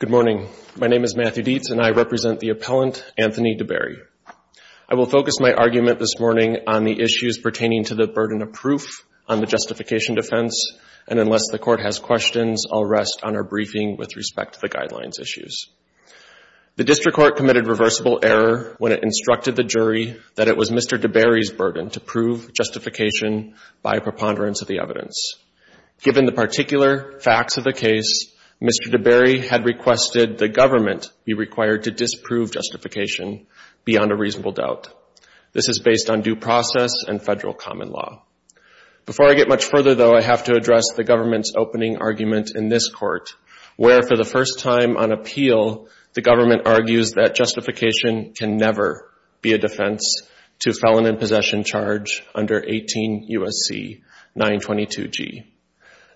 Good morning. My name is Matthew Dietz and I represent the appellant, Anthony Deberry. I will focus my argument this morning on the issues pertaining to the burden of proof on the justification defense, and unless the court has questions, I'll rest on our briefing with respect to the guidelines issues. The district court committed reversible error when it instructed the jury that it was Mr. Deberry's burden to prove justification by a preponderance of the evidence. Given the particular facts of the case, Mr. Deberry had requested the government be required to disprove justification beyond a reasonable doubt. This is based on due process and federal common law. Before I get much further, though, I have to address the government's opening argument in this court, where for the first time on appeal, the government argues that justification can never be a defense to felon in possession charge under 18 U.S.C. 922G.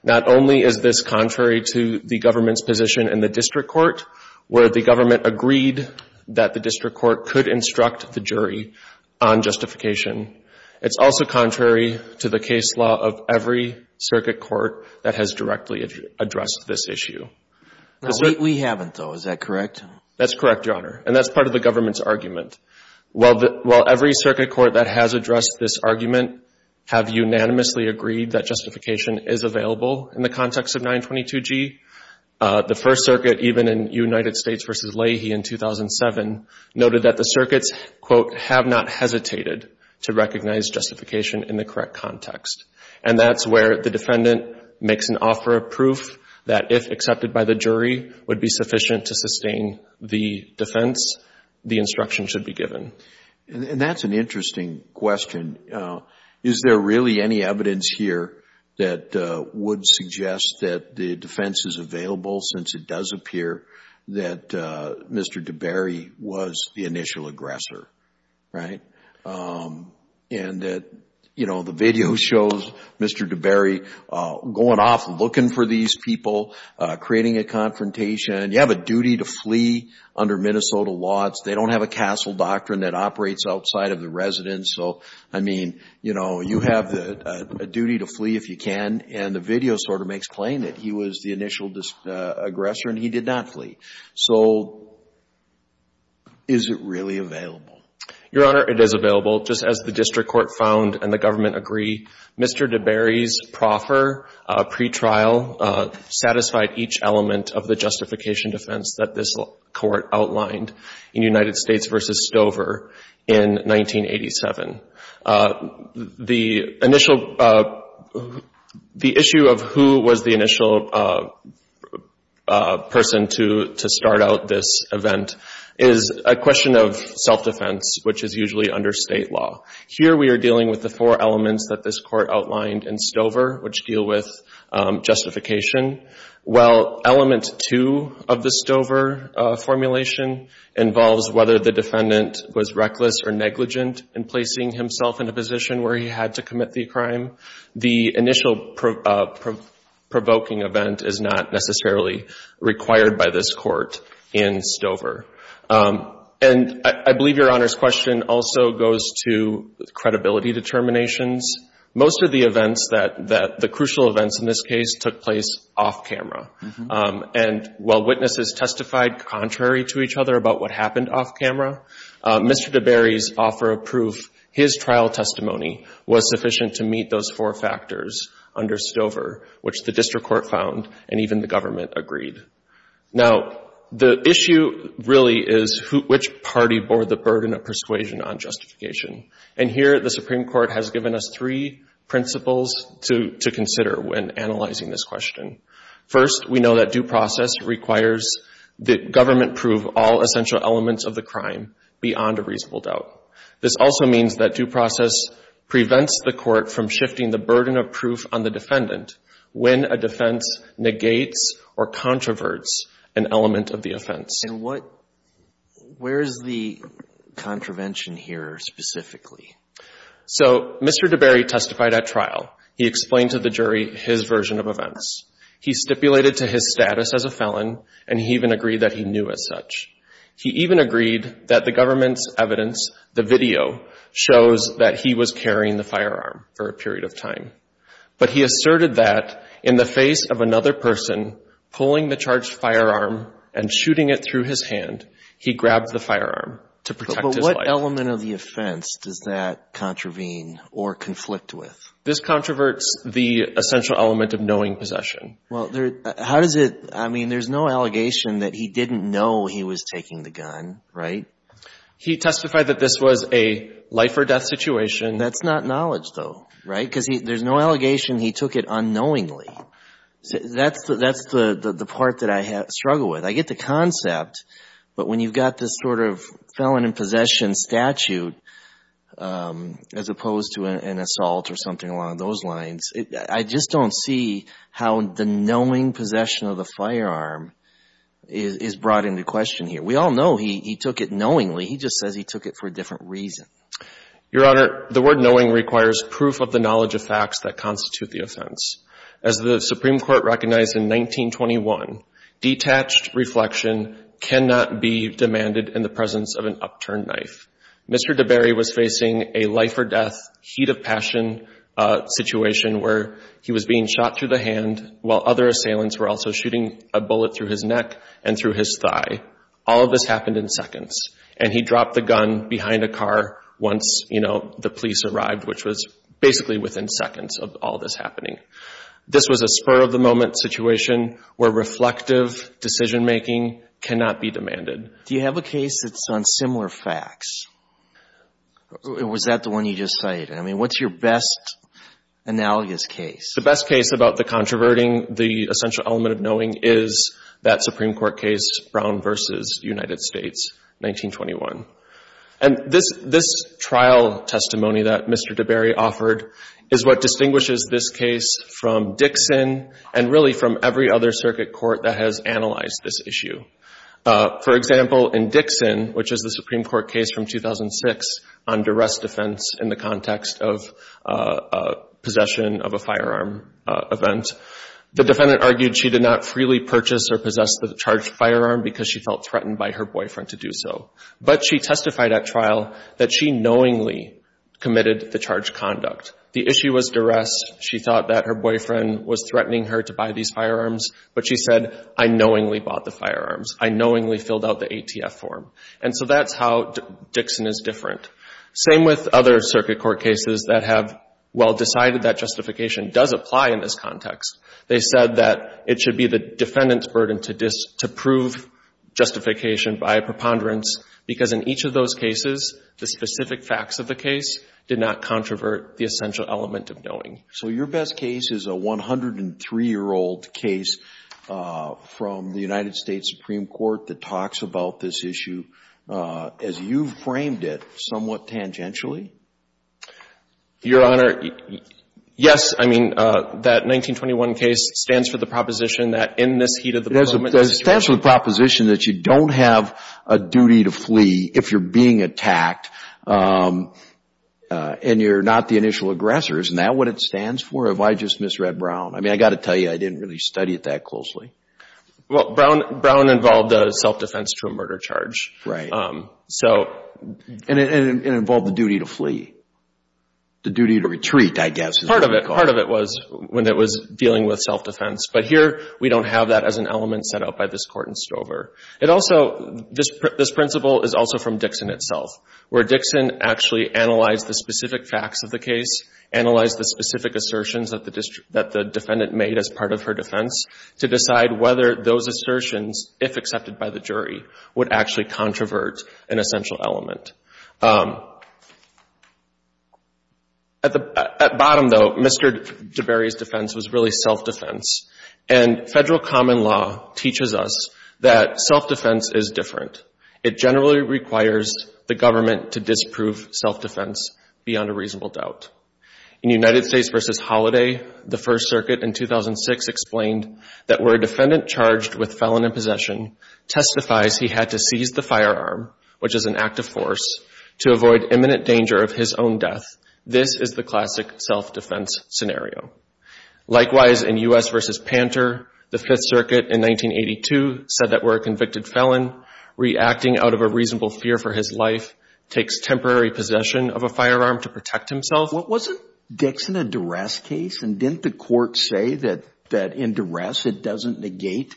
Not only is this contrary to the government's position in the district court, where the government agreed that the district court could instruct the jury on justification, it's also contrary to the case law of every circuit court that has directly addressed this issue. No, we haven't, though. Is that correct? That's correct, Your Honor, and that's part of the government's argument. While every circuit court that has addressed this argument have unanimously agreed that justification is available in the context of 922G, the First Circuit, even in United States v. Leahy in 2007, noted that the circuits, quote, have not hesitated to recognize justification in the correct context. And that's where the defendant makes an offer of proof that if accepted by the jury would be sufficient to sustain the defense, the instruction should be given. And that's an interesting question. Is there really any evidence here that would suggest that the defense is available, since it does appear that Mr. DeBerry was the initial aggressor, right? And that, you know, the video shows Mr. DeBerry going off looking for these people, creating a confrontation. You have a duty to flee under Minnesota laws. They don't have a castle doctrine that operates outside of the residence. So, I mean, you know, you have a duty to flee if you can, and the video sort of makes claim that he was the initial aggressor and he did not flee. So, is it really available? Your Honor, it is available. Just as the district court found and the government agree, Mr. DeBerry's proffer pretrial satisfied each element of the justification defense that this Court outlined in United States v. Stover in 1987. The initial, the issue of who was the initial person to start out this event is a question of self-defense, which is usually under state law. Here we are dealing with the four elements that this Court outlined in Stover, which deal with justification. Well, element two of the Stover formulation involves whether the defendant was reckless or negligent in placing himself in a position where he had to commit the crime. The initial provoking event is not necessarily required by this Court in Stover. And I believe Your Honor's question also goes to credibility determinations. Most of the events that, the crucial events in this case took place off camera. And while witnesses testified contrary to each other about what happened off camera, Mr. DeBerry's offer of proof, his trial testimony was sufficient to meet those four factors under Stover, which the district court found and even the government agreed. Now, the issue really is which party bore the burden of persuasion on justification. And here the Supreme Court has given us three principles to consider when analyzing this proceeding. First, we know that due process requires that government prove all essential elements of the crime beyond a reasonable doubt. This also means that due process prevents the Court from shifting the burden of proof on the defendant when a defense negates or controverts an element of the offense. And what, where is the contravention here specifically? So Mr. DeBerry testified at trial. He explained to the jury his version of events. He stipulated to his status as a felon, and he even agreed that he knew as such. He even agreed that the government's evidence, the video, shows that he was carrying the firearm for a period of time. But he asserted that in the face of another person pulling the charged firearm and shooting it through his hand, he grabbed the firearm to protect his life. What element of the offense does that contravene or conflict with? This controverts the essential element of knowing possession. Well, there, how does it, I mean, there's no allegation that he didn't know he was taking the gun, right? He testified that this was a life or death situation. That's not knowledge, though, right? Because there's no allegation he took it unknowingly. That's the part that I struggle with. I get the concept, but when you've got this sort of felon in possession statute, as opposed to an assault or something along those lines, I just don't see how the knowing possession of the firearm is brought into question here. We all know he took it knowingly. He just says he took it for a different reason. Your Honor, the word knowing requires proof of the knowledge of facts that constitute the offense. As the Supreme Court recognized in 1921, detached reflection cannot be demanded in the presence of an upturned knife. Mr. DeBerry was facing a life or death, heat of passion situation where he was being shot through the hand while other assailants were also shooting a bullet through his neck and through his thigh. All of this happened in seconds and he dropped the gun behind a car once, you know, the police arrived, which was basically within seconds of all this happening. This was a spur of the moment situation where reflective decision making cannot be demanded. Do you have a case that's on similar facts? Was that the one you just cited? I mean, what's your best analogous case? The best case about the controverting, the essential element of knowing is that Supreme Court case, Brown v. United States, 1921. And this trial testimony that Mr. DeBerry offered is what distinguishes this case from Dixon and really from every other circuit court that has analyzed this issue. For example, in Dixon, which is the Supreme Court case from 2006 on duress defense in the context of possession of a firearm event, the defendant argued she did not freely purchase or possess the charged firearm because she felt threatened by her boyfriend to do so. But she testified at trial that she knowingly committed the charged conduct. The issue was duress. She thought that her boyfriend was threatening her to buy these firearms, but she said, I knowingly bought the firearms. I knowingly filled out the ATF form. And so that's how Dixon is different. Same with other circuit court cases that have well decided that justification does apply in this context. They said that it should be the defendant's burden to prove justification by a preponderance because in each of those cases, the specific facts of the case did not controvert the essential element of knowing. So your best case is a 103-year-old case from the United States Supreme Court that talks about this issue as you've framed it somewhat tangentially? Your Honor, yes. I mean, that 1921 case stands for the proposition that in this heat of the moment, this is true. It stands for the proposition that you don't have a duty to flee if you're being attacked and you're not the initial aggressor. Isn't that what it stands for? Have I just misread Brown? I mean, I've got to tell you, I didn't really study it that closely. Well, Brown involved self-defense to a murder charge. Right. And it involved the duty to flee. The duty to retreat, I guess. Part of it was when it was dealing with self-defense. But here, we don't have that as an element set out by this court in Stover. This principle is also from Dixon itself, where Dixon actually analyzed the specific facts of the case, analyzed the specific assertions that the defendant made as part of her defense to decide whether those assertions, if accepted by the jury, would actually controvert an essential element. At the bottom, though, Mr. DeBerry's defense was really self-defense. And federal common law teaches us that self-defense is different. It generally requires the government to disprove self-defense beyond a reasonable doubt. In United States v. Holladay, the First Circuit in 2006 explained that where a defendant charged with felon in possession testifies he had to seize the firearm, which is an act of force, to avoid imminent danger of his own death, this is the classic self-defense scenario. Likewise, in U.S. v. Panter, the Fifth Circuit in 1982 said that where a convicted felon reacting out of a reasonable fear for his life takes temporary possession of a firearm to protect himself. What wasn't Dixon a duress case? And didn't the court say that in duress it doesn't negate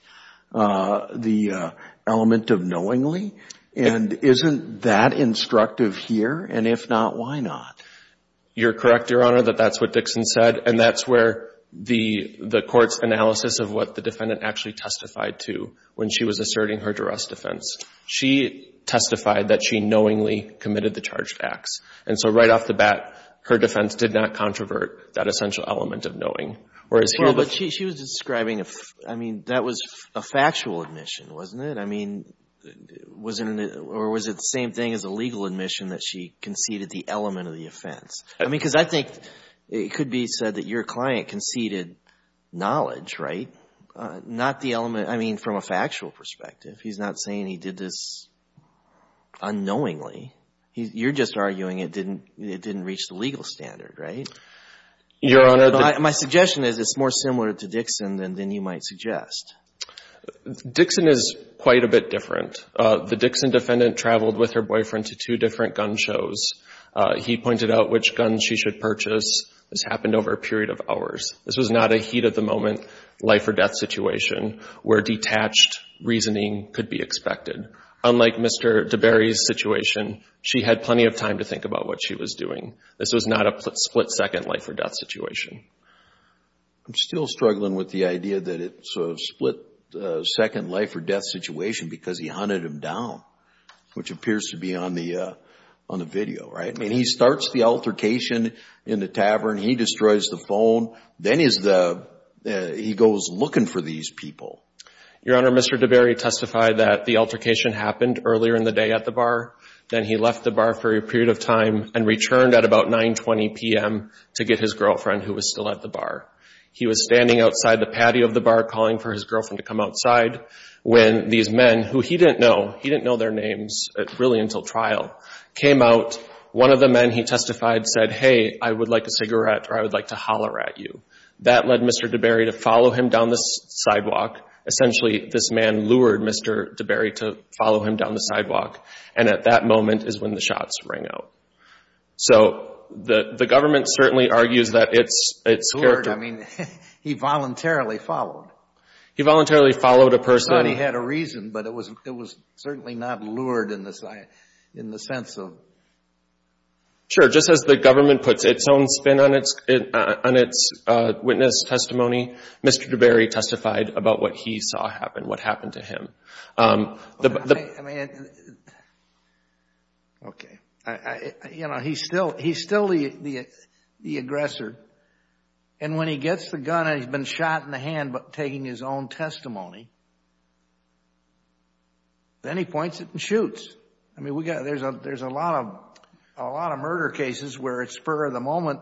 the element of knowingly? And isn't that instructive here? And if not, why not? You're correct, Your Honor, that that's what Dixon said. And that's where the court's analysis of what the defendant actually testified to when she was asserting her duress defense. She testified that she knowingly committed the charged acts. And so right off the bat, her defense did not controvert that essential element of knowing. Whereas here the ---- Well, but she was describing a ---- I mean, that was a factual admission, wasn't it? I mean, was it an ---- or was it the same thing as a legal admission that she conceded the element of the offense? I mean, because I think it could be said that your client conceded knowledge, right? Not the element, I mean, from a factual perspective. He's not saying he did this unknowingly. You're just arguing it didn't reach the legal standard, right? Your Honor, the ---- My suggestion is it's more similar to Dixon than you might suggest. Dixon is quite a bit different. The Dixon defendant traveled with her boyfriend to two different gun shows. He pointed out which guns she should purchase. This happened over a period of hours. This was not a heat-of-the-moment life-or-death situation where detached reasoning could be expected. Unlike Mr. DeBerry's situation, she had plenty of time to think about what she was doing. This was not a split-second life-or-death situation. I'm still struggling with the idea that it's a split-second life-or-death situation because he hunted him down, which appears to be on the video, right? I mean, he starts the altercation in the tavern. He destroys the phone. Then he goes looking for these people. Your Honor, Mr. DeBerry testified that the altercation happened earlier in the day at the bar. Then he left the bar for a period of time and returned at about 9.20 p.m. to get his girlfriend who was still at the bar. He was standing outside the patio of the bar calling for his girlfriend to come outside when these men, who he didn't know, he didn't know their names really until trial, came out. One of the men he testified said, hey, I would like a cigarette or I would like to holler at you. That led Mr. DeBerry to follow him down the sidewalk. Essentially, this man lured Mr. DeBerry to follow him down the sidewalk, and at that moment is when the shots rang out. So the government certainly argues that it's character. It's lured. I mean, he voluntarily followed. He voluntarily followed a person. I thought he had a reason, but it was certainly not lured in the sense of... Sure. Just as the government puts its own spin on its witness testimony, Mr. DeBerry testified about what he saw happen, what happened to him. Okay. You know, he's still the aggressor, and when he gets the gun and he's been shot in the hand taking his own testimony, then he points it and shoots. I mean, there's a lot of murder cases where it's spur of the moment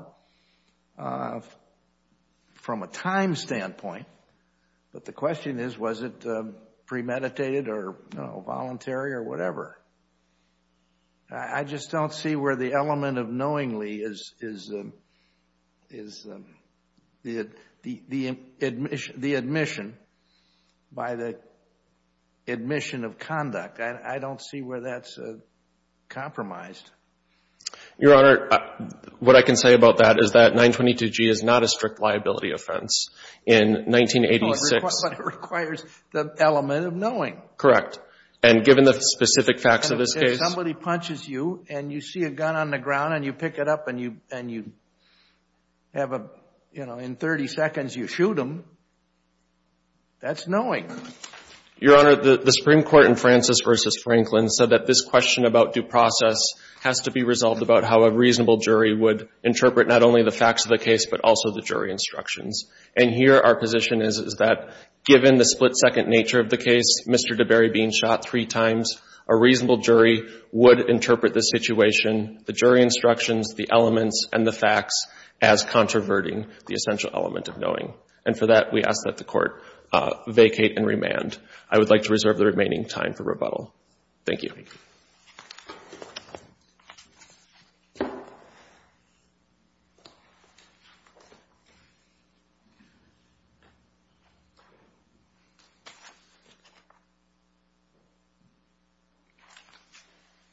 from a time standpoint, but the question is, was it premeditated or voluntary or whatever? I just don't see where the element of knowingly is the admission by the admission of conduct. I don't see where that's compromised. Your Honor, what I can say about that is that 922G is not a strict liability offense. In 1986... But it requires the element of knowing. Correct. And given the specific facts of this case... If somebody punches you and you see a gun on the ground and you pick it up and you have a... you know, in 30 seconds you shoot them, that's knowing. Your Honor, the Supreme Court in Francis v. Franklin said that this question about due process has to be resolved about how a reasonable jury would interpret not only the facts of the case, but also the jury instructions. And here our position is that given the split-second nature of the case, Mr. DeBerry being shot three times, a reasonable jury would interpret the situation, the jury instructions, the elements, and the facts as controverting the essential element of knowing. And for that, we ask that the Court vacate and remand. I would like to reserve the remaining time for rebuttal. Thank you. Thank you.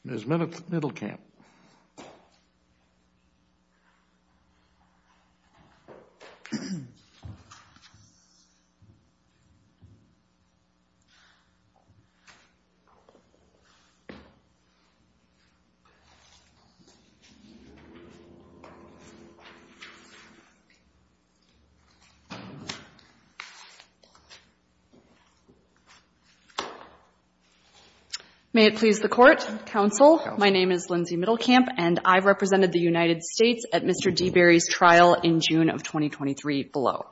Ms. Middlecamp. May it please the Court, Counsel. My name is Lindsay Middlecamp, and I represented the United States at Mr. DeBerry's trial in June of 2023 below.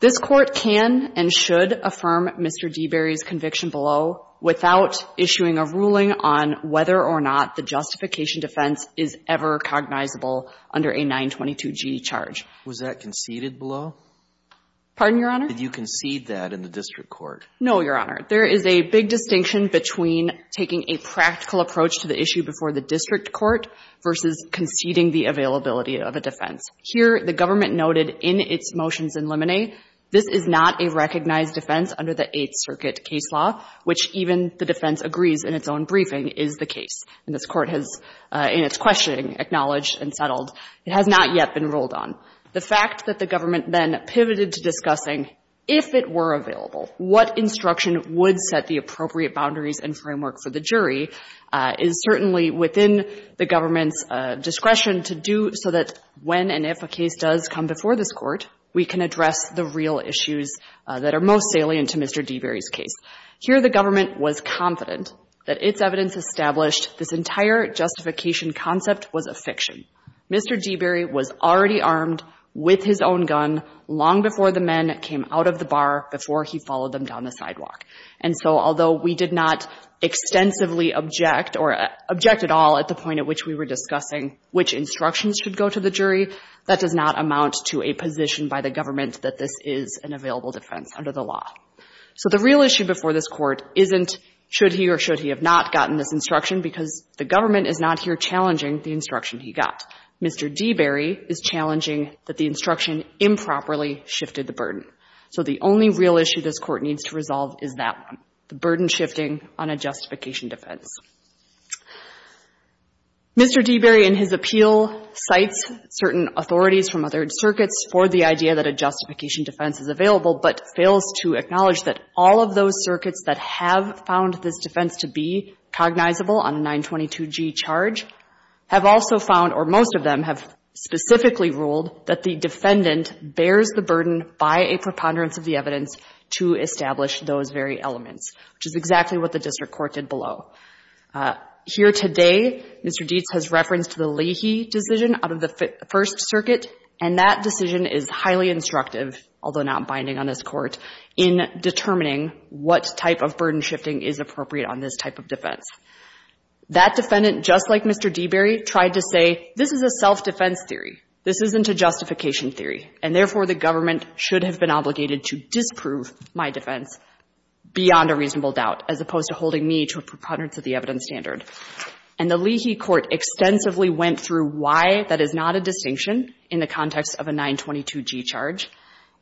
This Court can and should affirm Mr. DeBerry's conviction below without issuing a ruling on whether or not the justification defense is ever cognizable under a 922g charge. Was that conceded below? Pardon, Your Honor? Did you concede that in the district court? No, Your Honor. There is a big distinction between taking a practical approach to the issue before the district court versus conceding the availability of a defense. Here, the government noted in its motions in limine, this is not a recognized defense under the Eighth Circuit case law, which even the defense agrees in its own briefing is the case. And this Court has, in its questioning, acknowledged and settled. It has not yet been ruled on. The fact that the government then pivoted to discussing, if it were available, what instruction would set the appropriate boundaries and framework for the jury is certainly within the government's discretion to do so that when and if a case does come before this Court, we can address the real issues that are most salient to Mr. DeBerry's case. Here, the government was confident that its evidence established this entire justification concept was a fiction. Mr. DeBerry was already armed with his own gun long before the men came out of the bar before he followed them down the sidewalk. And so although we did not extensively object or object at all at the point at which we were discussing which instructions should go to the jury, that does not amount to a position by the government that this is an available defense under the law. So the real issue before this Court isn't should he or should he have not gotten this instruction because the government is not here challenging the instruction he got. Mr. DeBerry is challenging that the instruction improperly shifted the burden. So the only real issue this Court needs to resolve is that one, the burden shifting on a justification defense. Mr. DeBerry in his appeal cites certain authorities from other circuits for the idea that a justification defense is available, but fails to acknowledge that all of those circuits that have found this defense to be cognizable on a 922G charge have also found, or most of them have specifically ruled, that the defendant bears the burden by a preponderance of the evidence to establish those very elements, which is exactly what the District Court did below. Here today, Mr. Dietz has referenced the Leahy decision out of the First Circuit, and that decision is highly instructive, although not binding on this Court, in determining what type of burden shifting is appropriate on this type of defense. That defendant, just like Mr. DeBerry, tried to say this is a self-defense theory. This isn't a justification theory, and therefore, the government should have been obligated to disprove my defense beyond a reasonable doubt, as opposed to holding me to a preponderance of the evidence standard. And the Leahy Court extensively went through why that is not a distinction in the context of a 922G charge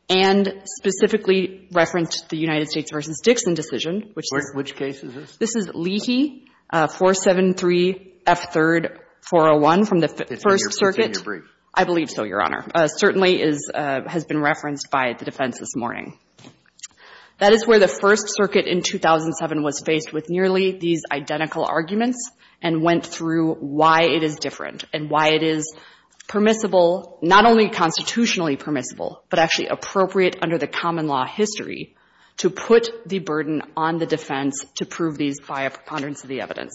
and specifically referenced the United States v. Dixon decision, which is Leahy 473F3-401 from the First Circuit. I believe so, Your Honor. Certainly has been referenced by the defense this morning. That is where the First Circuit in 2007 was faced with nearly these identical arguments and went through why it is different and why it is permissible, not only constitutionally permissible, but actually appropriate under the common law history to put the burden on the defense to prove these by a preponderance of the evidence.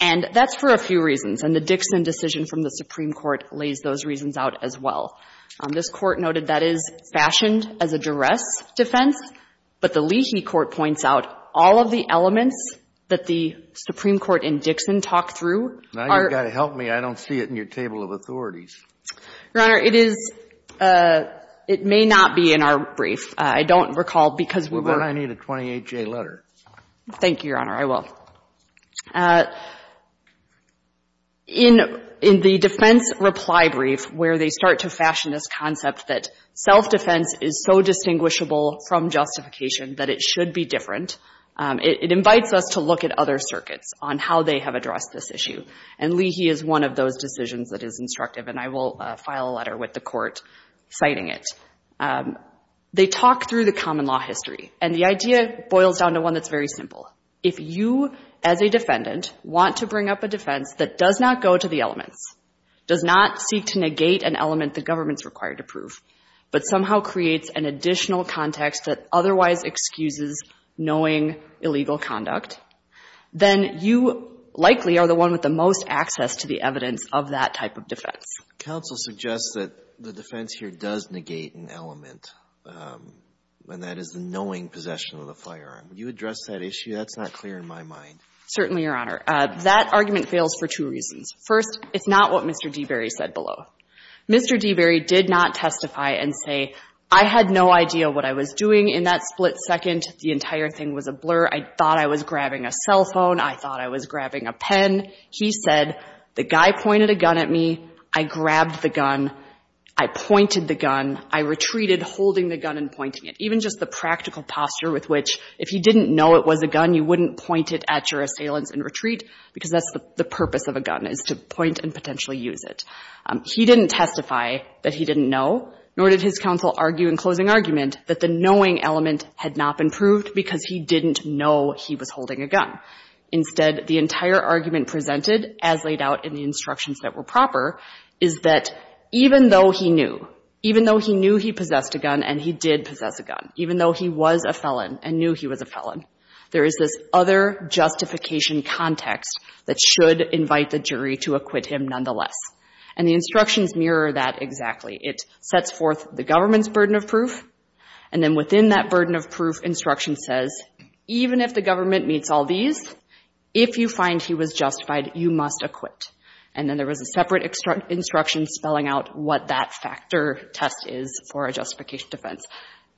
And that's for a few reasons. And the Dixon decision from the Supreme Court lays those reasons out as well. This Court noted that is fashioned as a duress defense. But the Leahy Court points out all of the elements that the Supreme Court in Dixon talked through are -- Now you've got to help me. I don't see it in your table of authorities. Your Honor, it is ‑‑ it may not be in our brief. I don't recall, because we were ‑‑ Well, then I need a 28J letter. Thank you, Your Honor. I will. In the defense reply brief where they start to fashion this concept that self-defense is so distinguishable from justification that it should be different, it invites us to look at other circuits on how they have addressed this issue. And Leahy is one of those decisions that is instructive. And I will file a letter with the Court citing it. They talk through the common law history. And the idea boils down to one that's very simple. If you, as a defendant, want to bring up a defense that does not go to the elements, does not seek to negate an element the government is required to prove, but somehow creates an additional context that otherwise excuses knowing illegal conduct, then you likely are the one with the most access to the evidence of that type of Counsel suggests that the defense here does negate an element, and that is the knowing possession of the firearm. Would you address that issue? That's not clear in my mind. Certainly, Your Honor. That argument fails for two reasons. First, it's not what Mr. Deberry said below. Mr. Deberry did not testify and say, I had no idea what I was doing in that split second. The entire thing was a blur. I thought I was grabbing a cell phone. I thought I was grabbing a pen. He said, the guy pointed a gun at me. I grabbed the gun. I pointed the gun. I retreated holding the gun and pointing it. Even just the practical posture with which if he didn't know it was a gun, you wouldn't point it at your assailants and retreat, because that's the purpose of a gun is to point and potentially use it. He didn't testify that he didn't know, nor did his counsel argue in closing argument that the knowing element had not been proved because he didn't know he was holding a gun. Instead, the entire argument presented, as laid out in the instructions that were proper, is that even though he knew, even though he knew he possessed a gun and he did possess a gun, even though he was a felon and knew he was a felon, there is this other justification context that should invite the jury to acquit him nonetheless. And the instructions mirror that exactly. It sets forth the government's burden of proof. And then within that burden of proof, instruction says, even if the government meets all these, if you find he was justified, you must acquit. And then there was a separate instruction spelling out what that factor test is for a justification defense.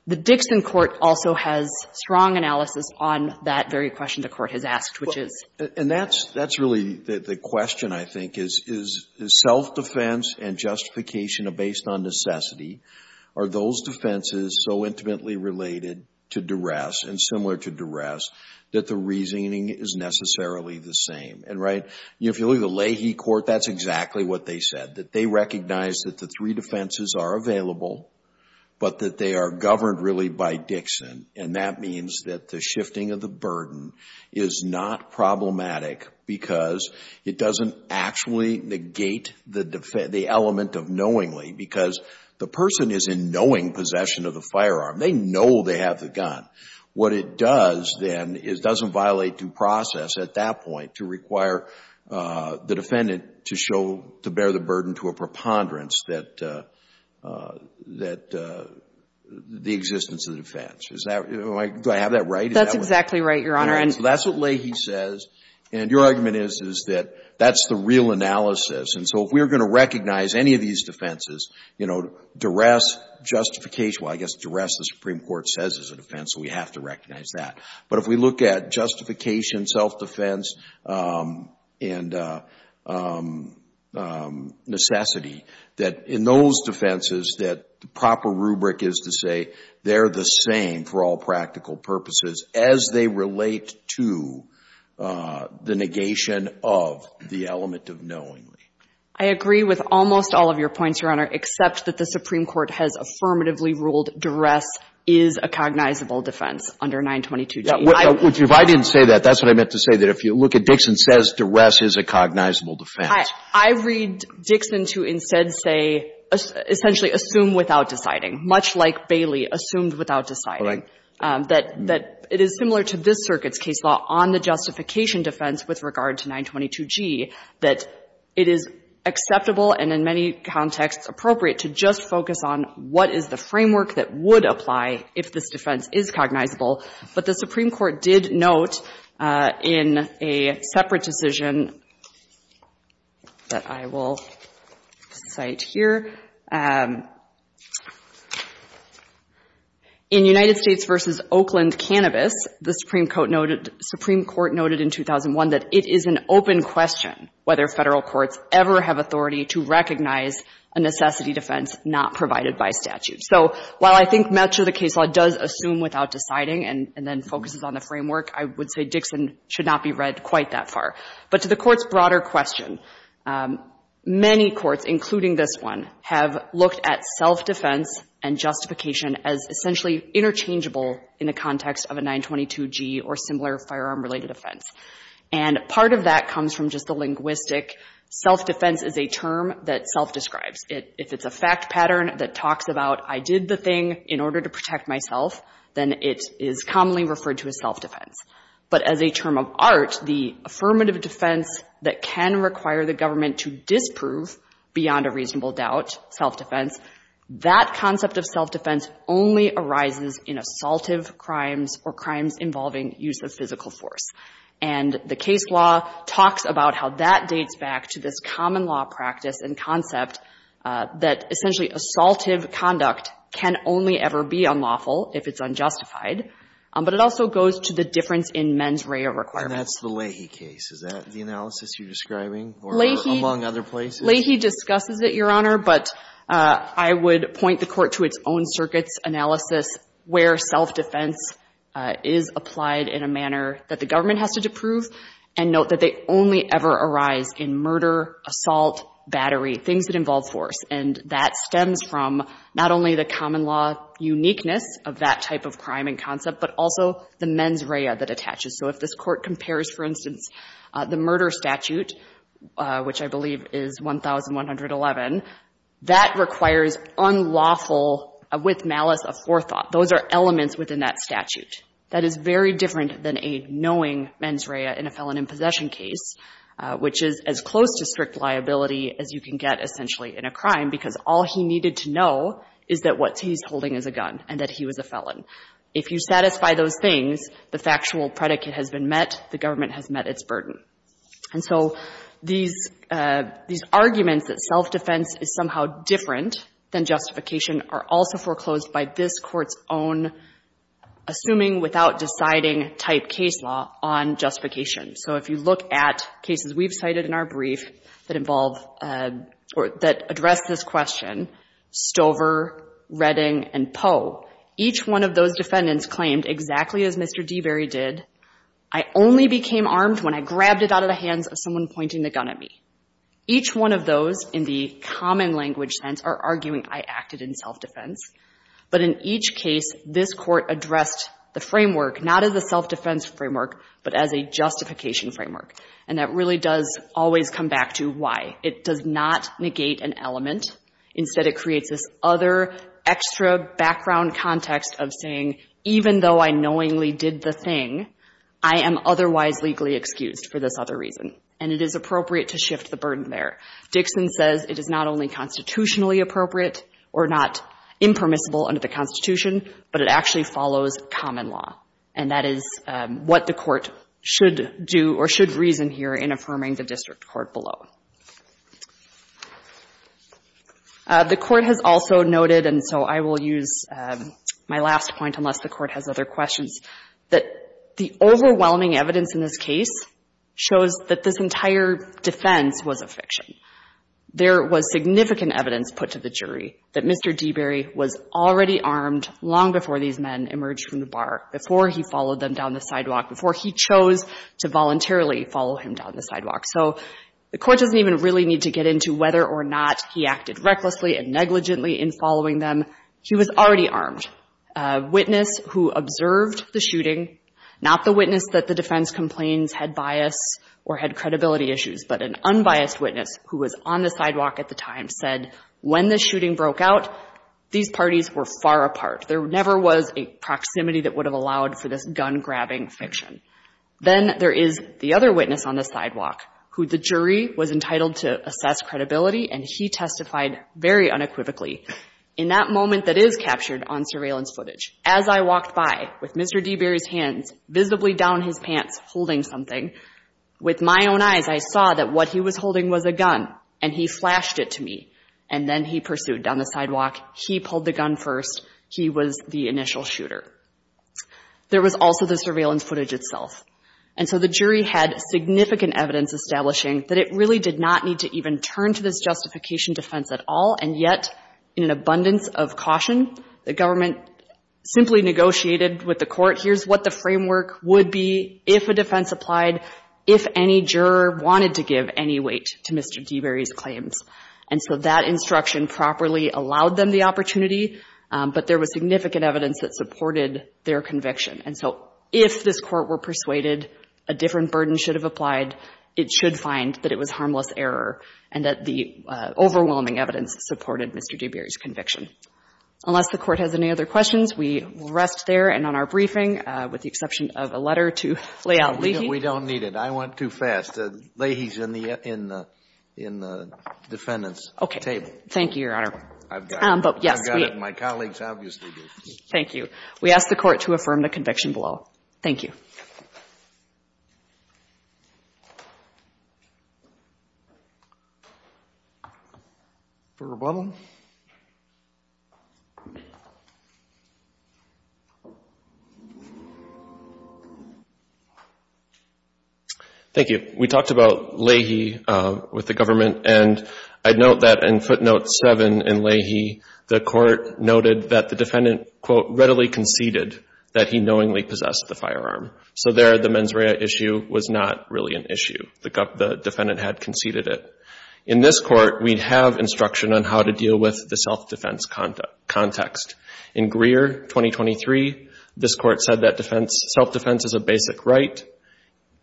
The Dixon court also has strong analysis on that very question the court has asked, which is. And that's really the question, I think, is self-defense and justification are based on necessity. Are those defenses so intimately related to duress and similar to duress that the reasoning is necessarily the same? And, right, if you look at the Leahy court, that's exactly what they said, that they recognize that the three defenses are available, but that they are governed really by Dixon. And that means that the shifting of the burden is not problematic because it doesn't actually negate the element of knowingly, because the person is in knowing possession of the firearm. They know they have the gun. What it does, then, is it doesn't violate due process at that point to require the defendant to show, to bear the burden to a preponderance that the existence of the defense. Do I have that right? That's exactly right, Your Honor. So that's what Leahy says. And your argument is, is that that's the real analysis. And so if we're going to recognize any of these defenses, you know, duress, justification, well, I guess duress the Supreme Court says is a defense, so we have to recognize that. But if we look at justification, self-defense, and necessity, that in those defenses that the proper rubric is to say they're the same for all practical purposes as they relate to the negation of the element of knowingly. I agree with almost all of your points, Your Honor, except that the Supreme Court has affirmatively ruled duress is a cognizable defense under 922G. If I didn't say that, that's what I meant to say, that if you look at Dixon says duress is a cognizable defense. I read Dixon to instead say, essentially assume without deciding, much like Bailey assumed without deciding, that it is similar to this circuit's case law on the justification defense with regard to 922G, that it is acceptable and in many contexts appropriate to just focus on what is the framework that would apply if this defense is cognizable. But the Supreme Court did note in a separate decision that I will cite here, in United States v. Oakland Cannabis, the Supreme Court noted in 2001 that it is an open question whether Federal courts ever have authority to recognize a necessity defense not provided by statute. So while I think much of the case law does assume without deciding and then focuses on the framework, I would say Dixon should not be read quite that far. But to the Court's broader question, many courts, including this one, have looked at self-defense and justification as essentially interchangeable in the context of a 922G or similar firearm-related offense. And part of that comes from just the linguistic self-defense is a term that self-describes. If it's a fact pattern that talks about I did the thing in order to protect myself, then it is commonly referred to as self-defense. But as a term of art, the affirmative defense that can require the government to disprove beyond a reasonable doubt, self-defense, that concept of self-defense only arises in the case law. And the case law talks about how that dates back to this common law practice and concept that essentially assaultive conduct can only ever be unlawful if it's unjustified. But it also goes to the difference in mens rea requirement. And that's the Leahy case. Is that the analysis you're describing or among other places? Leahy discusses it, Your Honor. But I would point the Court to its own circuit's analysis where self-defense is applied in a manner that the government has to prove and note that they only ever arise in murder, assault, battery, things that involve force. And that stems from not only the common law uniqueness of that type of crime and concept, but also the mens rea that attaches. So if this Court compares, for instance, the murder statute, which I believe is 1,111, that requires unlawful with malice aforethought. Those are elements within that statute. That is very different than a knowing mens rea in a felon in possession case, which is as close to strict liability as you can get essentially in a crime, because all he needed to know is that what he's holding is a gun and that he was a felon. If you satisfy those things, the factual predicate has been met, the government has met its burden. And so these arguments that self-defense is somehow different than justification are also foreclosed by this Court's own assuming without deciding type case law on justification. So if you look at cases we've cited in our brief that involve or that address this question, Stover, Redding, and Poe, each one of those defendants claimed exactly as Mr. Devery did, I only became armed when I grabbed it out of the hands of someone pointing the gun at me. Each one of those in the common language sense are arguing I acted in self-defense. But in each case, this Court addressed the framework not as a self-defense framework, but as a justification framework. And that really does always come back to why. It does not negate an element. Instead, it creates this other extra background context of saying, even though I knowingly did the thing, I am otherwise legally excused for this other reason. And it is appropriate to shift the burden there. Dixon says it is not only constitutionally appropriate or not impermissible under the Constitution, but it actually follows common law. And that is what the Court should do or should reason here in affirming the district court below. The Court has also noted, and so I will use my last point unless the Court has other questions, that the overwhelming evidence in this case shows that this entire defense was a fiction. There was significant evidence put to the jury that Mr. Devery was already armed long before these men emerged from the bar, before he followed them down the sidewalk, before he chose to voluntarily follow him down the sidewalk. So the Court doesn't even really need to get into whether or not he acted recklessly and negligently in following them. He was already armed. A witness who observed the shooting, not the witness that the defense complaints had bias or had credibility issues, but an unbiased witness who was on the sidewalk at the time, said when the shooting broke out, these parties were far apart. There never was a proximity that would have allowed for this gun-grabbing fiction. Then there is the other witness on the sidewalk who the jury was entitled to assess credibility, and he testified very unequivocally. In that moment that is captured on surveillance footage, as I walked by with Mr. Devery's hands visibly down his pants holding something, with my own eyes I saw that what he was holding was a gun, and he flashed it to me. And then he pursued down the sidewalk. He pulled the gun first. He was the initial shooter. There was also the surveillance footage itself. And so the jury had significant evidence establishing that it really did not need to even turn to this justification defense at all, and yet in an abundance of caution, the government simply negotiated with the court, here's what the framework would be if a defense applied, if any juror wanted to give any weight to Mr. Devery's claims. And so that instruction properly allowed them the opportunity, but there was significant evidence that supported their conviction. And so if this court were persuaded a different burden should have applied, it should find that it was harmless error and that the overwhelming evidence supported Mr. Devery's conviction. Unless the Court has any other questions, we will rest there and on our briefing with the exception of a letter to Layal Lahey. We don't need it. I went too fast. Lahey's in the defendant's table. Thank you, Your Honor. I've got it. I've got it. My colleagues obviously do. Thank you. We ask the Court to affirm the conviction below. Thank you. For Rebubble? Thank you. We talked about Lahey with the government and I'd note that in footnote seven in Lahey the Court noted that the defendant, quote, readily conceded that he knowingly possessed the firearm. So there the mens rea issue was not really an issue. The defendant had conceded it. In this Court we have instruction on how to deal with the self-defense context. In Greer, 2023, this Court said that self-defense is a basic right.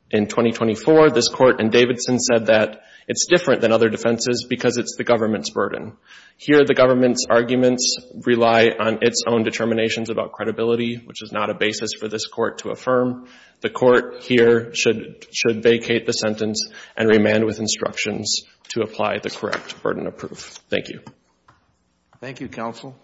In 2024, this Court in Davidson said that it's different than other defenses because it's the government's burden. Here the government's arguments rely on its own determinations about credibility, which is not a basis for this Court to affirm. The Court here should vacate the sentence and remand with instructions to apply the correct burden of proof. Thank you. Thank you, counsel.